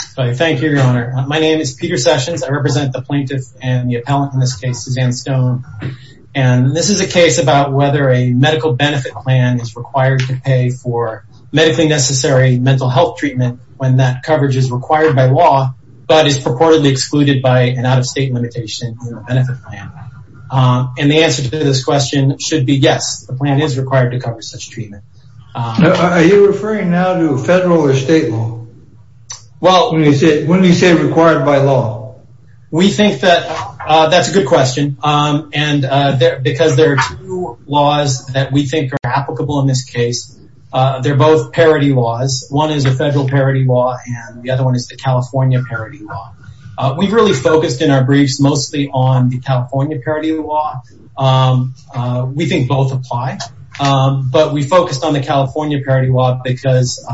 Thank you, Your Honor. My name is Peter Sessions. I represent the plaintiff and the appellant in this case, Suzanne Stone. And this is a case about whether a medical benefit plan is required to pay for medically necessary mental health treatment when that coverage is required by law, but is purportedly excluded by an out-of-state limitation benefit plan. And the answer to this question should be yes, the plan is required to cover such treatment. Are you referring now to federal or state law? Well, when you say required by law, we think that that's a good question. And because there are two laws that we think are applicable in this case, they're both parody laws. One is a federal parody law and the other one is the California parody law. We've really focused in our briefs mostly on the California parody law. We think both apply, but we focused on the California parody law because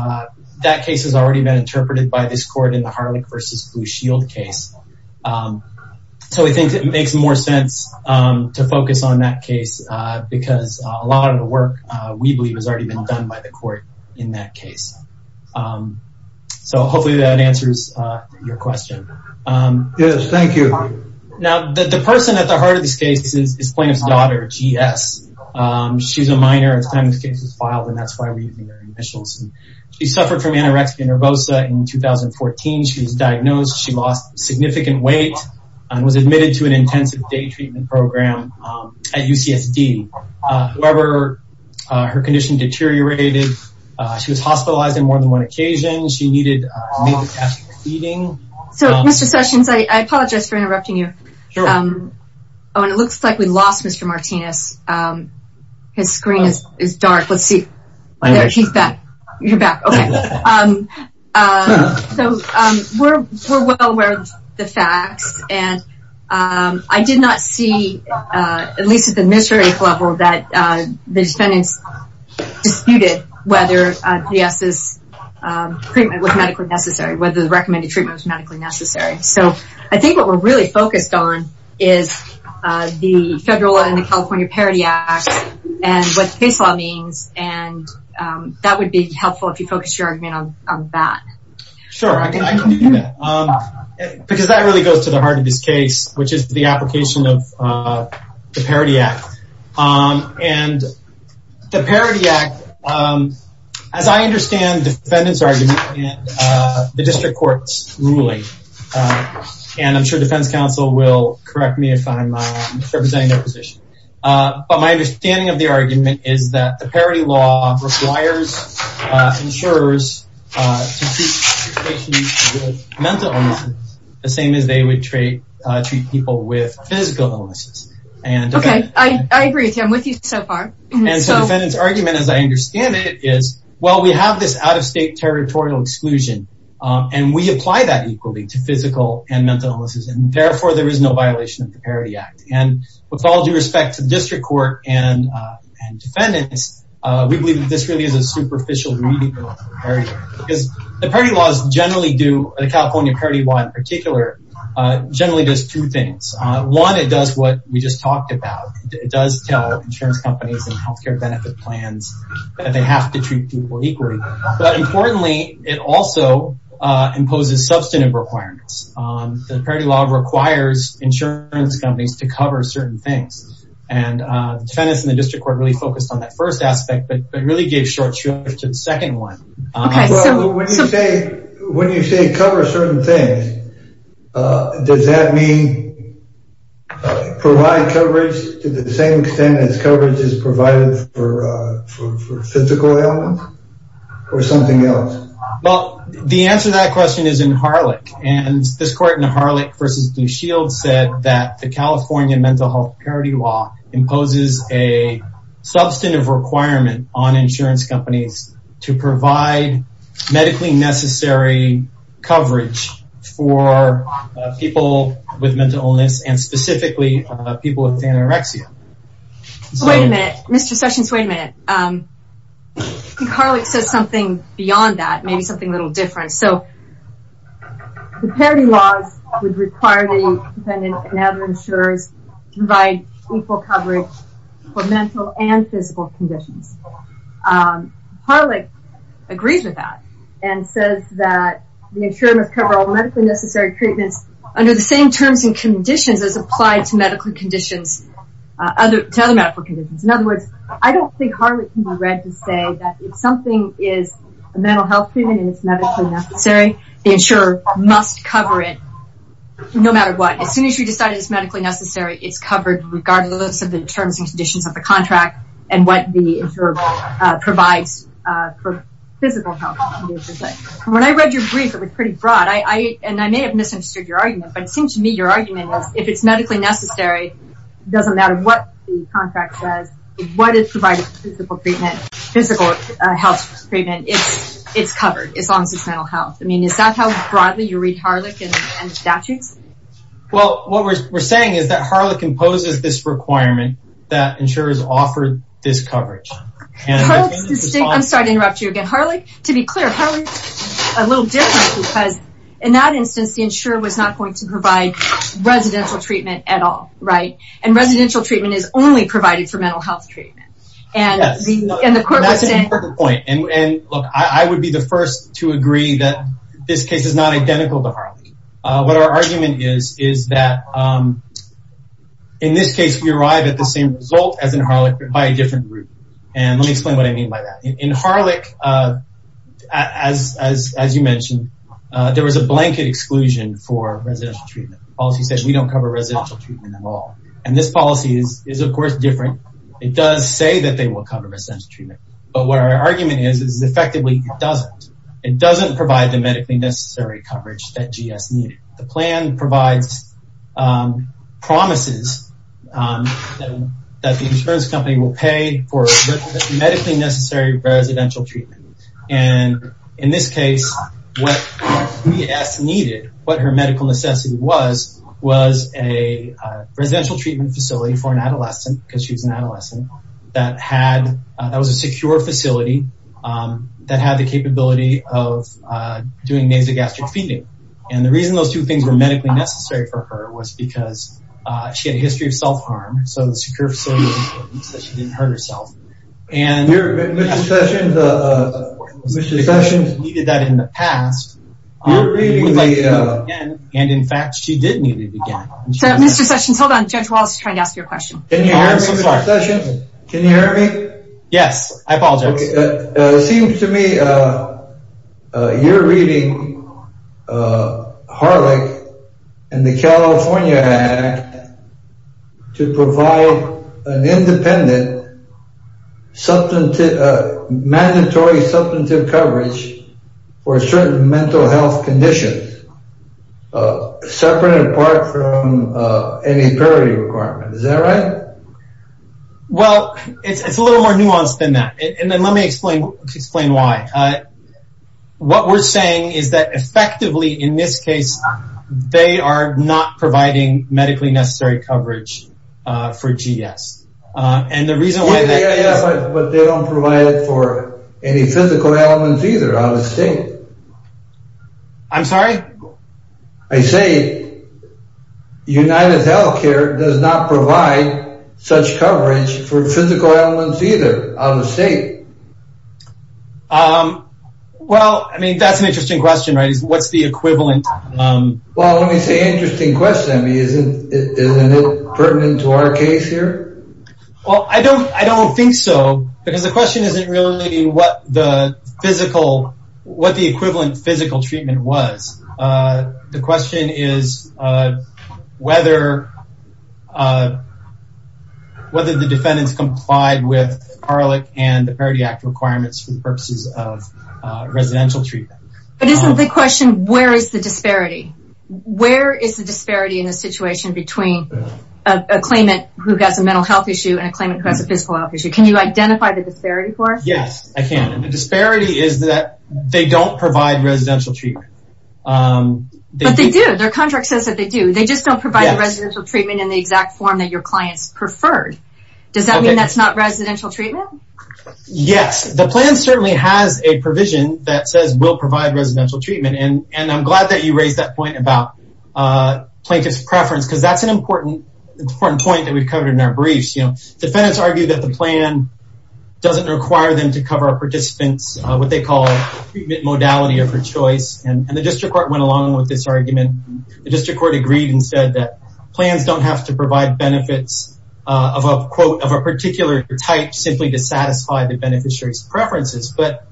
that case has already been interpreted by this court in the Harlech v. Blue Shield case. So we think it makes more sense to focus on that case because a lot of the work we believe has already been done by the court in that case. So hopefully that answers your question. Yes, thank you. Now, the person at the heart of this case is plaintiff's daughter, G.S. She's a minor at the time this case was filed, and that's why we're using her initials. She suffered from anorexia nervosa in 2014. She was diagnosed. She lost significant weight and was admitted to an intensive day treatment program at UCSD. However, her condition deteriorated. She was hospitalized on more than one occasion. She needed major gastric feeding. So, Mr. Sessions, I apologize for interrupting you. Sure. Oh, and it looks like we lost Mr. Martinez. His screen is dark. Let's see. There, he's back. You're back. Okay. So we're well aware of the facts, and I did not see, at least at the administrative level, that the defendants disputed whether G.S.'s treatment was medically necessary, whether the recommended treatment was medically necessary. So I think what we're really focused on is the federal and the California Parity Act and what the case law means, and that would be helpful if you focused your argument on that. Sure. I can do that because that really goes to the heart of this case, which is the application of the Parity Act. And the Parity Act, as I understand the defendant's argument and the district court's ruling, and I'm sure defense counsel will correct me if I'm misrepresenting their position, but my understanding of the argument is that the Parity Law requires insurers to treat patients with mental illnesses the same as they would treat people with physical illnesses. Okay. I agree with you. I'm with you so far. And so the defendant's argument, as I understand it, is, well, we have this out-of-state territorial exclusion, and we apply that equally to physical and mental illnesses, and therefore there is no violation of the Parity Act. And with all due respect to the district court and defendants, we believe that this really is a superficial reading of the Parity Act because the Parity Laws generally do, the California Parity Law in particular, generally does two things. One, it does what we just talked about. It does tell insurance companies and health care benefit plans that they have to treat people equally. But importantly, it also imposes substantive requirements. The Parity Law requires insurance companies to cover certain things, and defendants in the district court really focused on that first aspect but really gave short shrift to the second one. When you say cover certain things, does that mean provide coverage to the same extent as coverage is provided for physical ailments or something else? Well, the answer to that question is in Harlech. And this court in Harlech v. Blue Shield said that the California Mental Health Parity Law imposes a substantive requirement on insurance companies to provide medically necessary coverage for people with mental illness, and specifically people with anorexia. Wait a minute. Mr. Sessions, wait a minute. Harlech says something beyond that, maybe something a little different. The Parity Law would require the defendant and other insurers to provide equal coverage for mental and physical conditions. Harlech agrees with that and says that the insurer must cover all medically necessary treatments under the same terms and conditions as applied to other medical conditions. In other words, I don't think Harlech can be read to say that if something is a mental health treatment and it's medically necessary, the insurer must cover it no matter what. As soon as you decide it's medically necessary, it's covered regardless of the terms and conditions of the contract and what the insurer provides for physical health. When I read your brief, it was pretty broad, and I may have misunderstood your argument, but it seems to me your argument is if it's medically necessary, it doesn't matter what the contract says, what is provided for physical health treatment, it's covered as long as it's mental health. Is that how broadly you read Harlech and statutes? Well, what we're saying is that Harlech imposes this requirement that insurers offer this coverage. I'm sorry to interrupt you again. To be clear, Harlech is a little different because in that instance, the insurer was not going to provide residential treatment at all. Residential treatment is only provided for mental health treatment. That's an important point. I would be the first to agree that this case is not identical to Harlech. What our argument is is that in this case, we arrive at the same result as in Harlech, but by a different route. Let me explain what I mean by that. In Harlech, as you mentioned, there was a blanket exclusion for residential treatment. The policy says we don't cover residential treatment at all, and this policy is, of course, different. It does say that they will cover residential treatment, but what our argument is is effectively it doesn't. It doesn't provide the medically necessary coverage that GS needed. The plan provides promises that the insurance company will pay for medically necessary residential treatment. In this case, what GS needed, what her medical necessity was, was a residential treatment facility for an adolescent, because she was an adolescent, that was a secure facility that had the capability of doing nasogastric feeding. The reason those two things were medically necessary for her was because she had a history of self-harm, so the secure facility means that she didn't hurt herself. Mr. Sessions, Mr. Sessions. She needed that in the past. You're reading the. And, in fact, she did need it again. Mr. Sessions, hold on. Judge Wallace is trying to ask you a question. Can you hear me, Mr. Sessions? Can you hear me? Yes, I apologize. It seems to me you're reading Harlech and the California Act to provide an independent mandatory substantive coverage for certain mental health conditions separate and apart from any parity requirement. Is that right? Well, it's a little more nuanced than that, and then let me explain why. What we're saying is that, effectively, in this case, they are not providing medically necessary coverage for GS. And the reason why. Yeah, yeah, yeah, but they don't provide it for any physical ailments either, I was saying. I'm sorry? I say UnitedHealthcare does not provide such coverage for physical ailments either out of state. Well, I mean, that's an interesting question, right? What's the equivalent? Well, let me say interesting question. Isn't it pertinent to our case here? Well, I don't think so, because the question isn't really what the equivalent physical treatment was. The question is whether the defendants complied with Harlech and the Parity Act requirements for the purposes of residential treatment. But isn't the question, where is the disparity? Where is the disparity in the situation between a claimant who has a mental health issue and a claimant who has a physical health issue? Can you identify the disparity for us? Yes, I can. The disparity is that they don't provide residential treatment. But they do. Their contract says that they do. They just don't provide residential treatment in the exact form that your clients preferred. Does that mean that's not residential treatment? Yes. The plan certainly has a provision that says we'll provide residential treatment. And I'm glad that you raised that point about plaintiff's preference, because that's an important point that we've covered in our briefs. Defendants argue that the plan doesn't require them to cover a participant's what they call treatment modality of their choice. And the district court went along with this argument. The district court agreed and said that plans don't have to provide benefits of a quote of a particular type simply to satisfy the beneficiary's preferences. But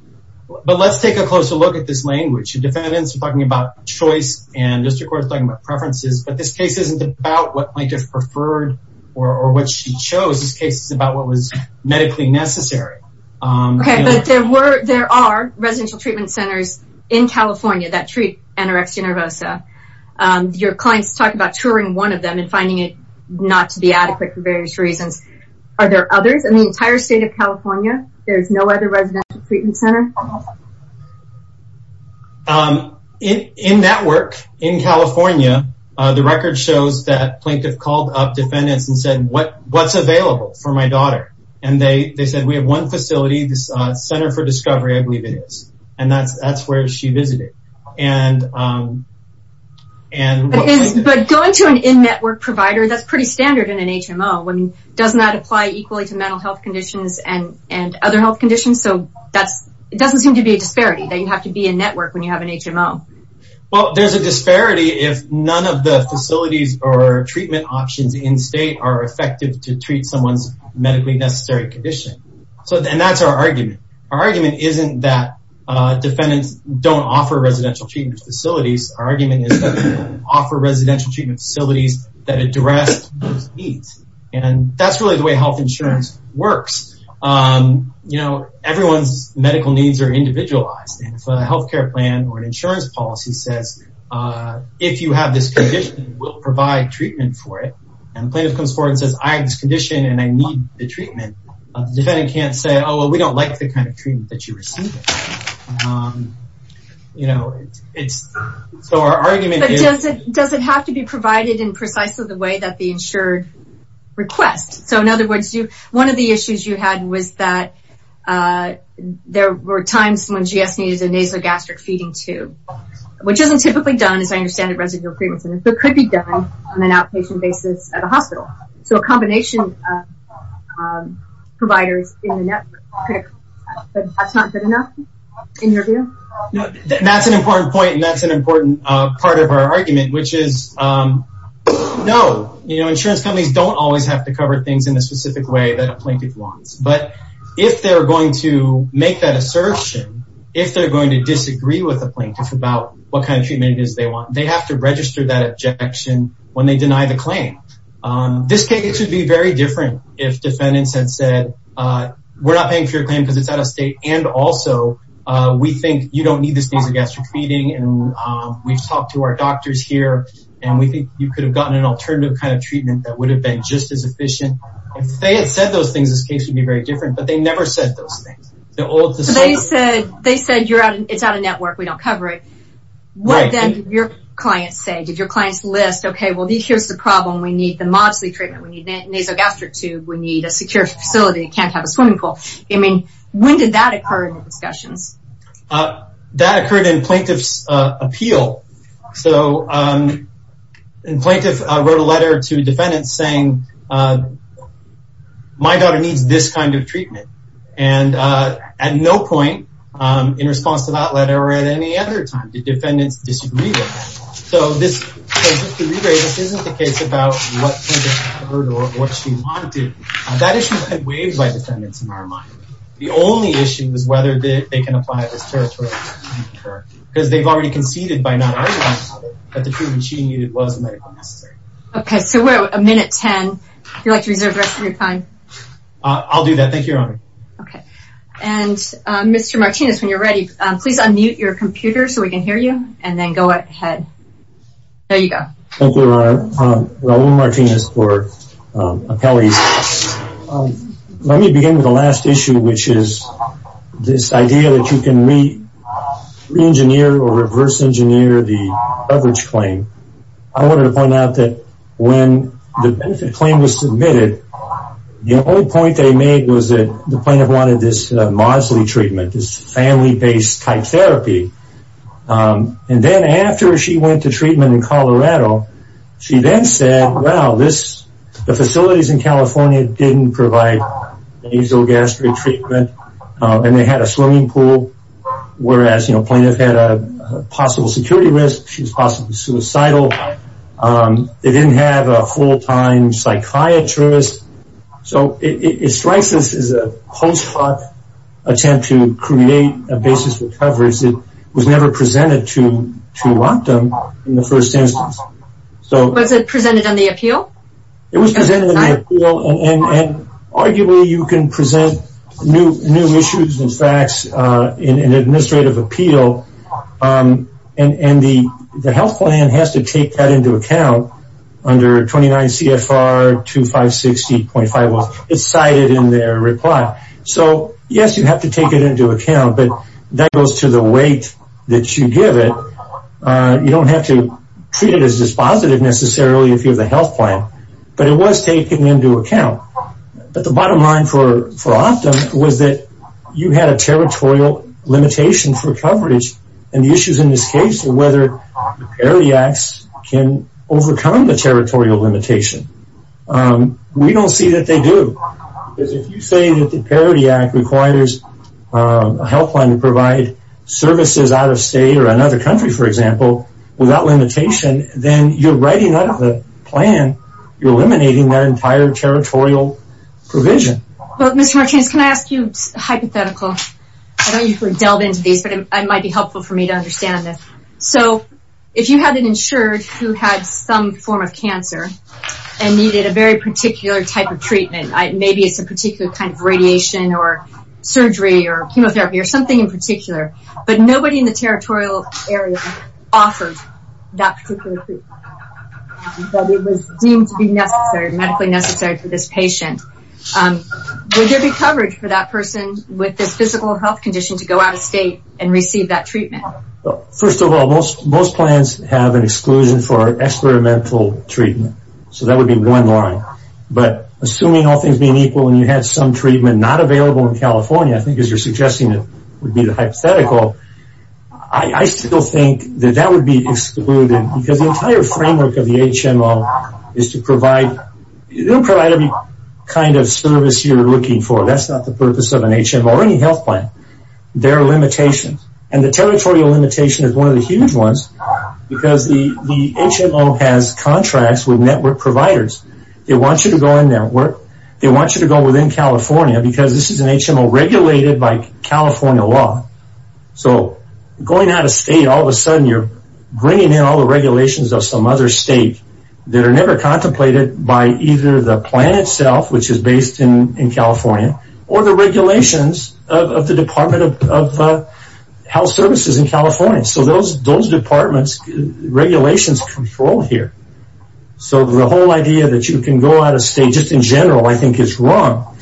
let's take a closer look at this language. Defendants are talking about choice. And district court is talking about preferences. But this case isn't about what plaintiff preferred or what she chose. This case is about what was medically necessary. Okay, but there are residential treatment centers in California that treat anorexia nervosa. Your clients talk about touring one of them and finding it not to be adequate for various reasons. Are there others? In the entire state of California, there's no other residential treatment center? In that work in California, the record shows that plaintiff called up defendants and said, what's available for my daughter? And they said, we have one facility, the Center for Discovery, I believe it is. And that's where she visited. But going to an in-network provider, that's pretty standard in an HMO. Doesn't that apply equally to mental health conditions and other health conditions? So it doesn't seem to be a disparity that you have to be in-network when you have an HMO. Well, there's a disparity if none of the facilities or treatment options in-state are effective to treat someone's medically necessary condition. And that's our argument. Our argument isn't that defendants don't offer residential treatment facilities. Our argument is that they don't offer residential treatment facilities that address those needs. And that's really the way health insurance works. You know, everyone's medical needs are individualized. And if a health care plan or an insurance policy says, if you have this condition, we'll provide treatment for it, and the plaintiff comes forward and says, I have this condition and I need the treatment, the defendant can't say, oh, well, we don't like the kind of treatment that you received. You know, so our argument is... But does it have to be provided in precisely the way that the insured request? So in other words, one of the issues you had was that there were times when GS needed a nasogastric feeding tube, which isn't typically done, as I understand it, at residential treatment centers, but could be done on an outpatient basis at a hospital. So a combination of providers in the network, that's not good enough, in your view? That's an important point, and that's an important part of our argument, which is, no. You know, insurance companies don't always have to cover things in the specific way that a plaintiff wants. But if they're going to make that assertion, if they're going to disagree with the plaintiff about what kind of treatment it is they want, they have to register that objection when they deny the claim. This case would be very different if defendants had said, we're not paying for your claim because it's out of state, and also we think you don't need this nasogastric feeding, and we've talked to our doctors here, and we think you could have gotten an alternative kind of treatment that would have been just as efficient. If they had said those things, this case would be very different, but they never said those things. So they said, it's out of network, we don't cover it. What, then, did your clients say? Did your clients list, okay, well, here's the problem, we need the Mobsley treatment, we need a nasogastric tube, we need a secure facility that can't have a swimming pool. I mean, when did that occur in the discussions? That occurred in plaintiff's appeal. So the plaintiff wrote a letter to defendants saying, my daughter needs this kind of treatment. And at no point in response to that letter or at any other time did defendants disagree with that. So this isn't the case about what plaintiff heard or what she wanted. That issue had waived by defendants in our mind. The only issue was whether they can apply it as territorial. Because they've already conceded by not arguing about it that the treatment she needed was medically necessary. Okay, so we're at a minute ten. If you'd like to reserve the rest of your time. I'll do that. Thank you, Your Honor. Okay. And, Mr. Martinez, when you're ready, please unmute your computer so we can hear you and then go ahead. There you go. Thank you, Your Honor. Raul Martinez for Appellees. Let me begin with the last issue, which is this idea that you can re-engineer or reverse engineer the coverage claim. I wanted to point out that when the benefit claim was submitted, the only point they made was that the plaintiff wanted this Mosley treatment, this family-based type therapy. And then after she went to treatment in Colorado, she then said, well, the facilities in California didn't provide nasal gastric treatment and they had a swimming pool, whereas the plaintiff had a possible security risk. She was possibly suicidal. They didn't have a full-time psychiatrist. So it strikes us as a post hoc attempt to create a basis for coverage that was never presented to Rockdome in the first instance. Was it presented on the appeal? It was presented on the appeal. Arguably, you can present new issues and facts in an administrative appeal, and the health plan has to take that into account under 29 CFR 2560.5. It's cited in their reply. So, yes, you have to take it into account, but that goes to the weight that you give it. You don't have to treat it as dispositive necessarily if you have the health plan, but it was taken into account. But the bottom line for Rockdome was that you had a territorial limitation for coverage, and the issues in this case are whether the Parity Acts can overcome the territorial limitation. We don't see that they do. If you say that the Parity Act requires a health plan to provide services out of state or another country, for example, without limitation, then you're writing out of the plan. You're eliminating that entire territorial provision. Well, Mr. Martins, can I ask you a hypothetical? I don't usually delve into these, but it might be helpful for me to understand this. So if you had an insured who had some form of cancer and needed a very particular type of treatment, maybe it's a particular kind of radiation or surgery or chemotherapy or something in particular, but nobody in the territorial area offered that particular treatment. It was deemed to be medically necessary for this patient. Would there be coverage for that person with this physical health condition to go out of state and receive that treatment? First of all, most plans have an exclusion for experimental treatment, so that would be one line. But assuming all things being equal and you had some treatment not available in California, I think as you're suggesting it would be the hypothetical, I still think that that would be excluded because the entire framework of the HMO is to provide any kind of service you're looking for. That's not the purpose of an HMO or any health plan. There are limitations, and the territorial limitation is one of the huge ones because the HMO has contracts with network providers. They want you to go on network. They want you to go within California because this is an HMO regulated by California law. So going out of state, all of a sudden you're bringing in all the regulations of some other state that are never contemplated by either the plan itself, which is based in California, or the regulations of the Department of Health Services in California. So those departments' regulations control here. So the whole idea that you can go out of state just in general I think is wrong,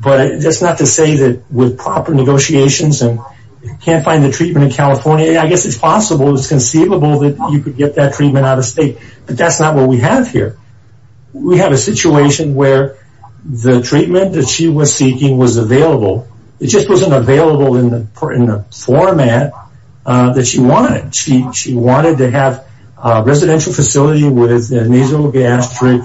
but that's not to say that with proper negotiations and can't find the treatment in California, I guess it's possible, it's conceivable that you could get that treatment out of state, but that's not what we have here. We have a situation where the treatment that she was seeking was available. It just wasn't available in the format that she wanted. She wanted to have a residential facility with nasal gastric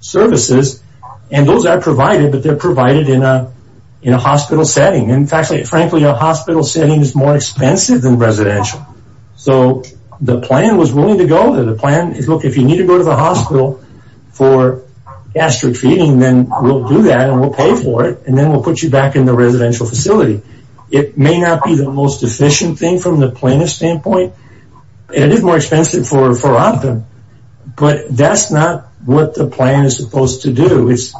services, and those are provided, but they're provided in a hospital setting. And frankly, a hospital setting is more expensive than residential. So the plan was willing to go there. The plan is, look, if you need to go to the hospital for gastric feeding, then we'll do that and we'll pay for it, and then we'll put you back in the residential facility. It may not be the most efficient thing from the planner's standpoint, and it is more expensive for opt-in, but that's not what the plan is supposed to do. It's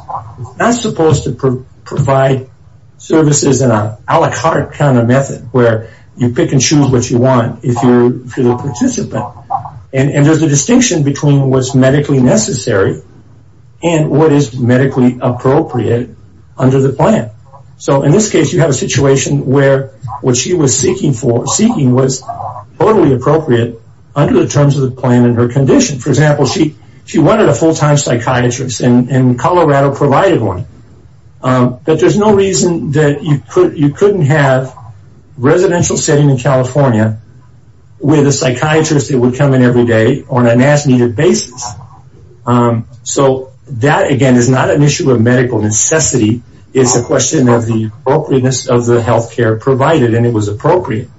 not supposed to provide services in an a la carte kind of method where you pick and choose what you want if you're the participant. And there's a distinction between what's medically necessary and what is medically appropriate under the plan. So in this case you have a situation where what she was seeking was totally appropriate under the terms of the plan and her condition. For example, she wanted a full-time psychiatrist, and Colorado provided one. But there's no reason that you couldn't have a residential setting in California with a psychiatrist that would come in every day on an as-needed basis. So that, again, is not an issue of medical necessity. It's a question of the appropriateness of the health care provided, and it was appropriate.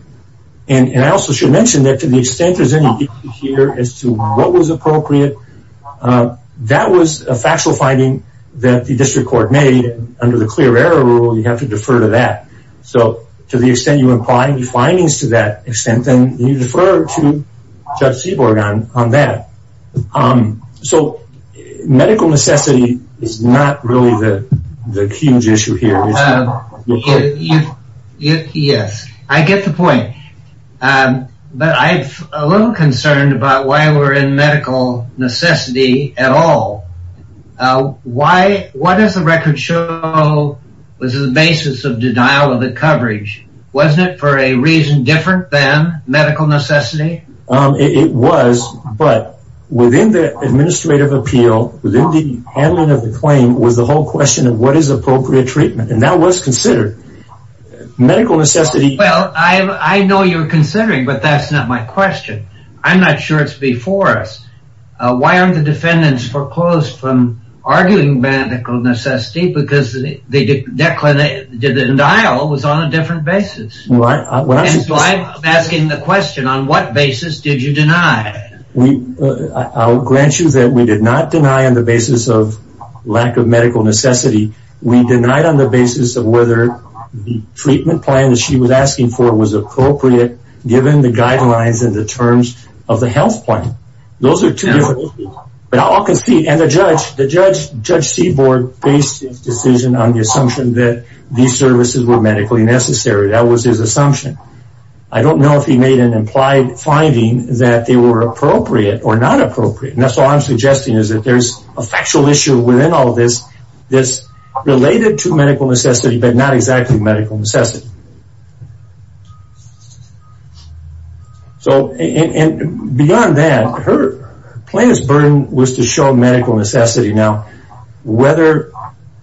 And I also should mention that to the extent there's any issue here as to what was appropriate, that was a factual finding that the district court made. Under the clear error rule, you have to defer to that. So to the extent you imply any findings to that extent, then you defer to Judge Seaborg on that. So medical necessity is not really the huge issue here. Yes, I get the point. But I'm a little concerned about why we're in medical necessity at all. What does the record show was the basis of denial of the coverage? Wasn't it for a reason different than medical necessity? It was, but within the administrative appeal, within the handling of the claim, was the whole question of what is appropriate treatment. And that was considered. Well, I know you're considering, but that's not my question. I'm not sure it's before us. Why aren't the defendants foreclosed from arguing medical necessity? Because the denial was on a different basis. So I'm asking the question, on what basis did you deny? I'll grant you that we did not deny on the basis of lack of medical necessity. We denied on the basis of whether the treatment plan that she was asking for was appropriate, given the guidelines and the terms of the health plan. Those are two different things. And the Judge Seaborg based his decision on the assumption that these services were medically necessary. That was his assumption. I don't know if he made an implied finding that they were appropriate or not appropriate. That's all I'm suggesting is that there's a factual issue within all of this that's related to medical necessity but not exactly medical necessity. And beyond that, her plaintiff's burden was to show medical necessity. Now, whether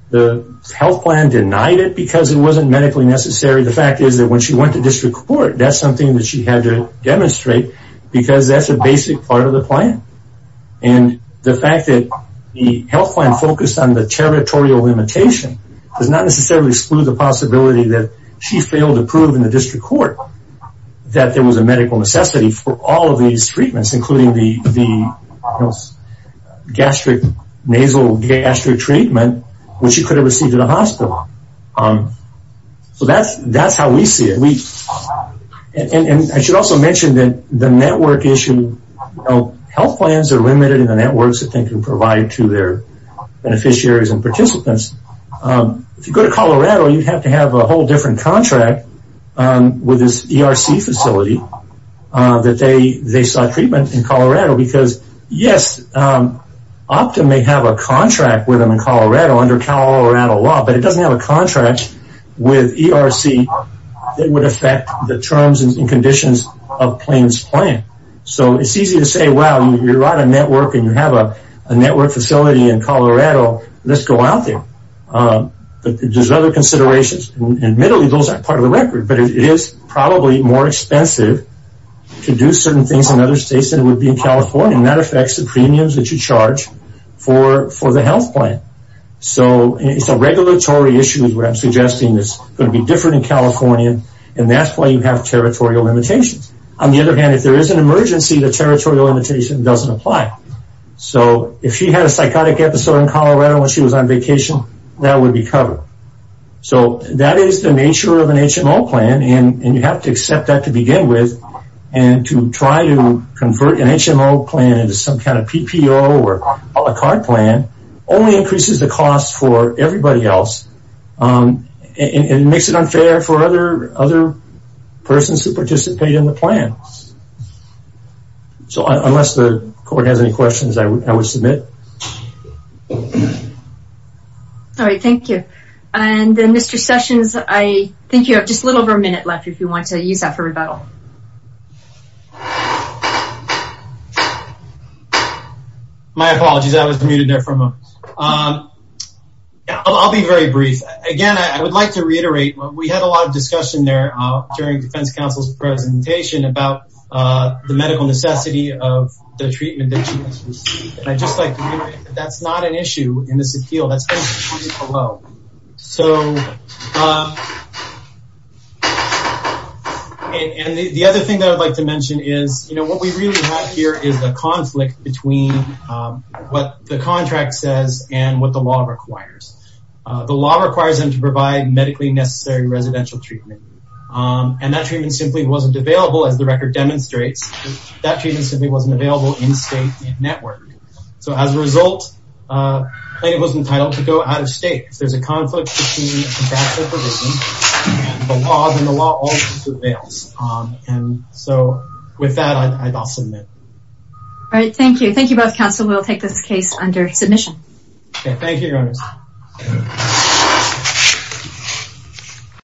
the health plan denied it because it wasn't medically necessary, the fact is that when she went to district court, that's something that she had to demonstrate because that's a basic part of the plan. And the fact that the health plan focused on the territorial limitation does not necessarily exclude the possibility that she failed to prove in the district court that there was a medical necessity for all of these treatments, including the gastric, nasal gastric treatment, which she could have received at a hospital. So that's how we see it. And I should also mention that the network issue, health plans are limited in the networks that they can provide to their beneficiaries and participants. If you go to Colorado, you'd have to have a whole different contract with this ERC facility that they sought treatment in Colorado because, yes, Optum may have a contract with them in Colorado under Colorado law, but it doesn't have a contract with ERC that would affect the terms and conditions of the plaintiff's plan. So it's easy to say, well, you're on a network and you have a network facility in Colorado. Let's go out there. But there's other considerations. Admittedly, those aren't part of the record, but it is probably more expensive to do certain things in other states than it would be in California, and that affects the premiums that you charge for the health plan. So it's a regulatory issue is what I'm suggesting. It's going to be different in California, and that's why you have territorial limitations. On the other hand, if there is an emergency, the territorial limitation doesn't apply. So if she had a psychotic episode in Colorado when she was on vacation, that would be covered. So that is the nature of an HMO plan, and you have to accept that to begin with, and to try to convert an HMO plan into some kind of PPO or a card plan only increases the cost for everybody else and makes it unfair for other persons who participate in the plan. So unless the court has any questions, I would submit. All right. Thank you. And then, Mr. Sessions, I think you have just a little over a minute left if you want to use that for rebuttal. My apologies. I was muted there for a moment. I'll be very brief. Again, I would like to reiterate we had a lot of discussion there during the defense counsel's presentation about the medical necessity of the treatment that she has received. And I'd just like to reiterate that that's not an issue in this appeal. That's been discussed below. And the other thing that I'd like to mention is what we really have here is a conflict between what the contract says and what the law requires. The law requires them to provide medically necessary residential treatment, and that treatment simply wasn't available, as the record demonstrates. That treatment simply wasn't available in state network. So as a result, the plaintiff was entitled to go out of state. If there's a conflict between contractual provisions and the law, then the law also prevails. And so with that, I'll submit. All right. Thank you. Thank you both, counsel. Thank you, Your Honor.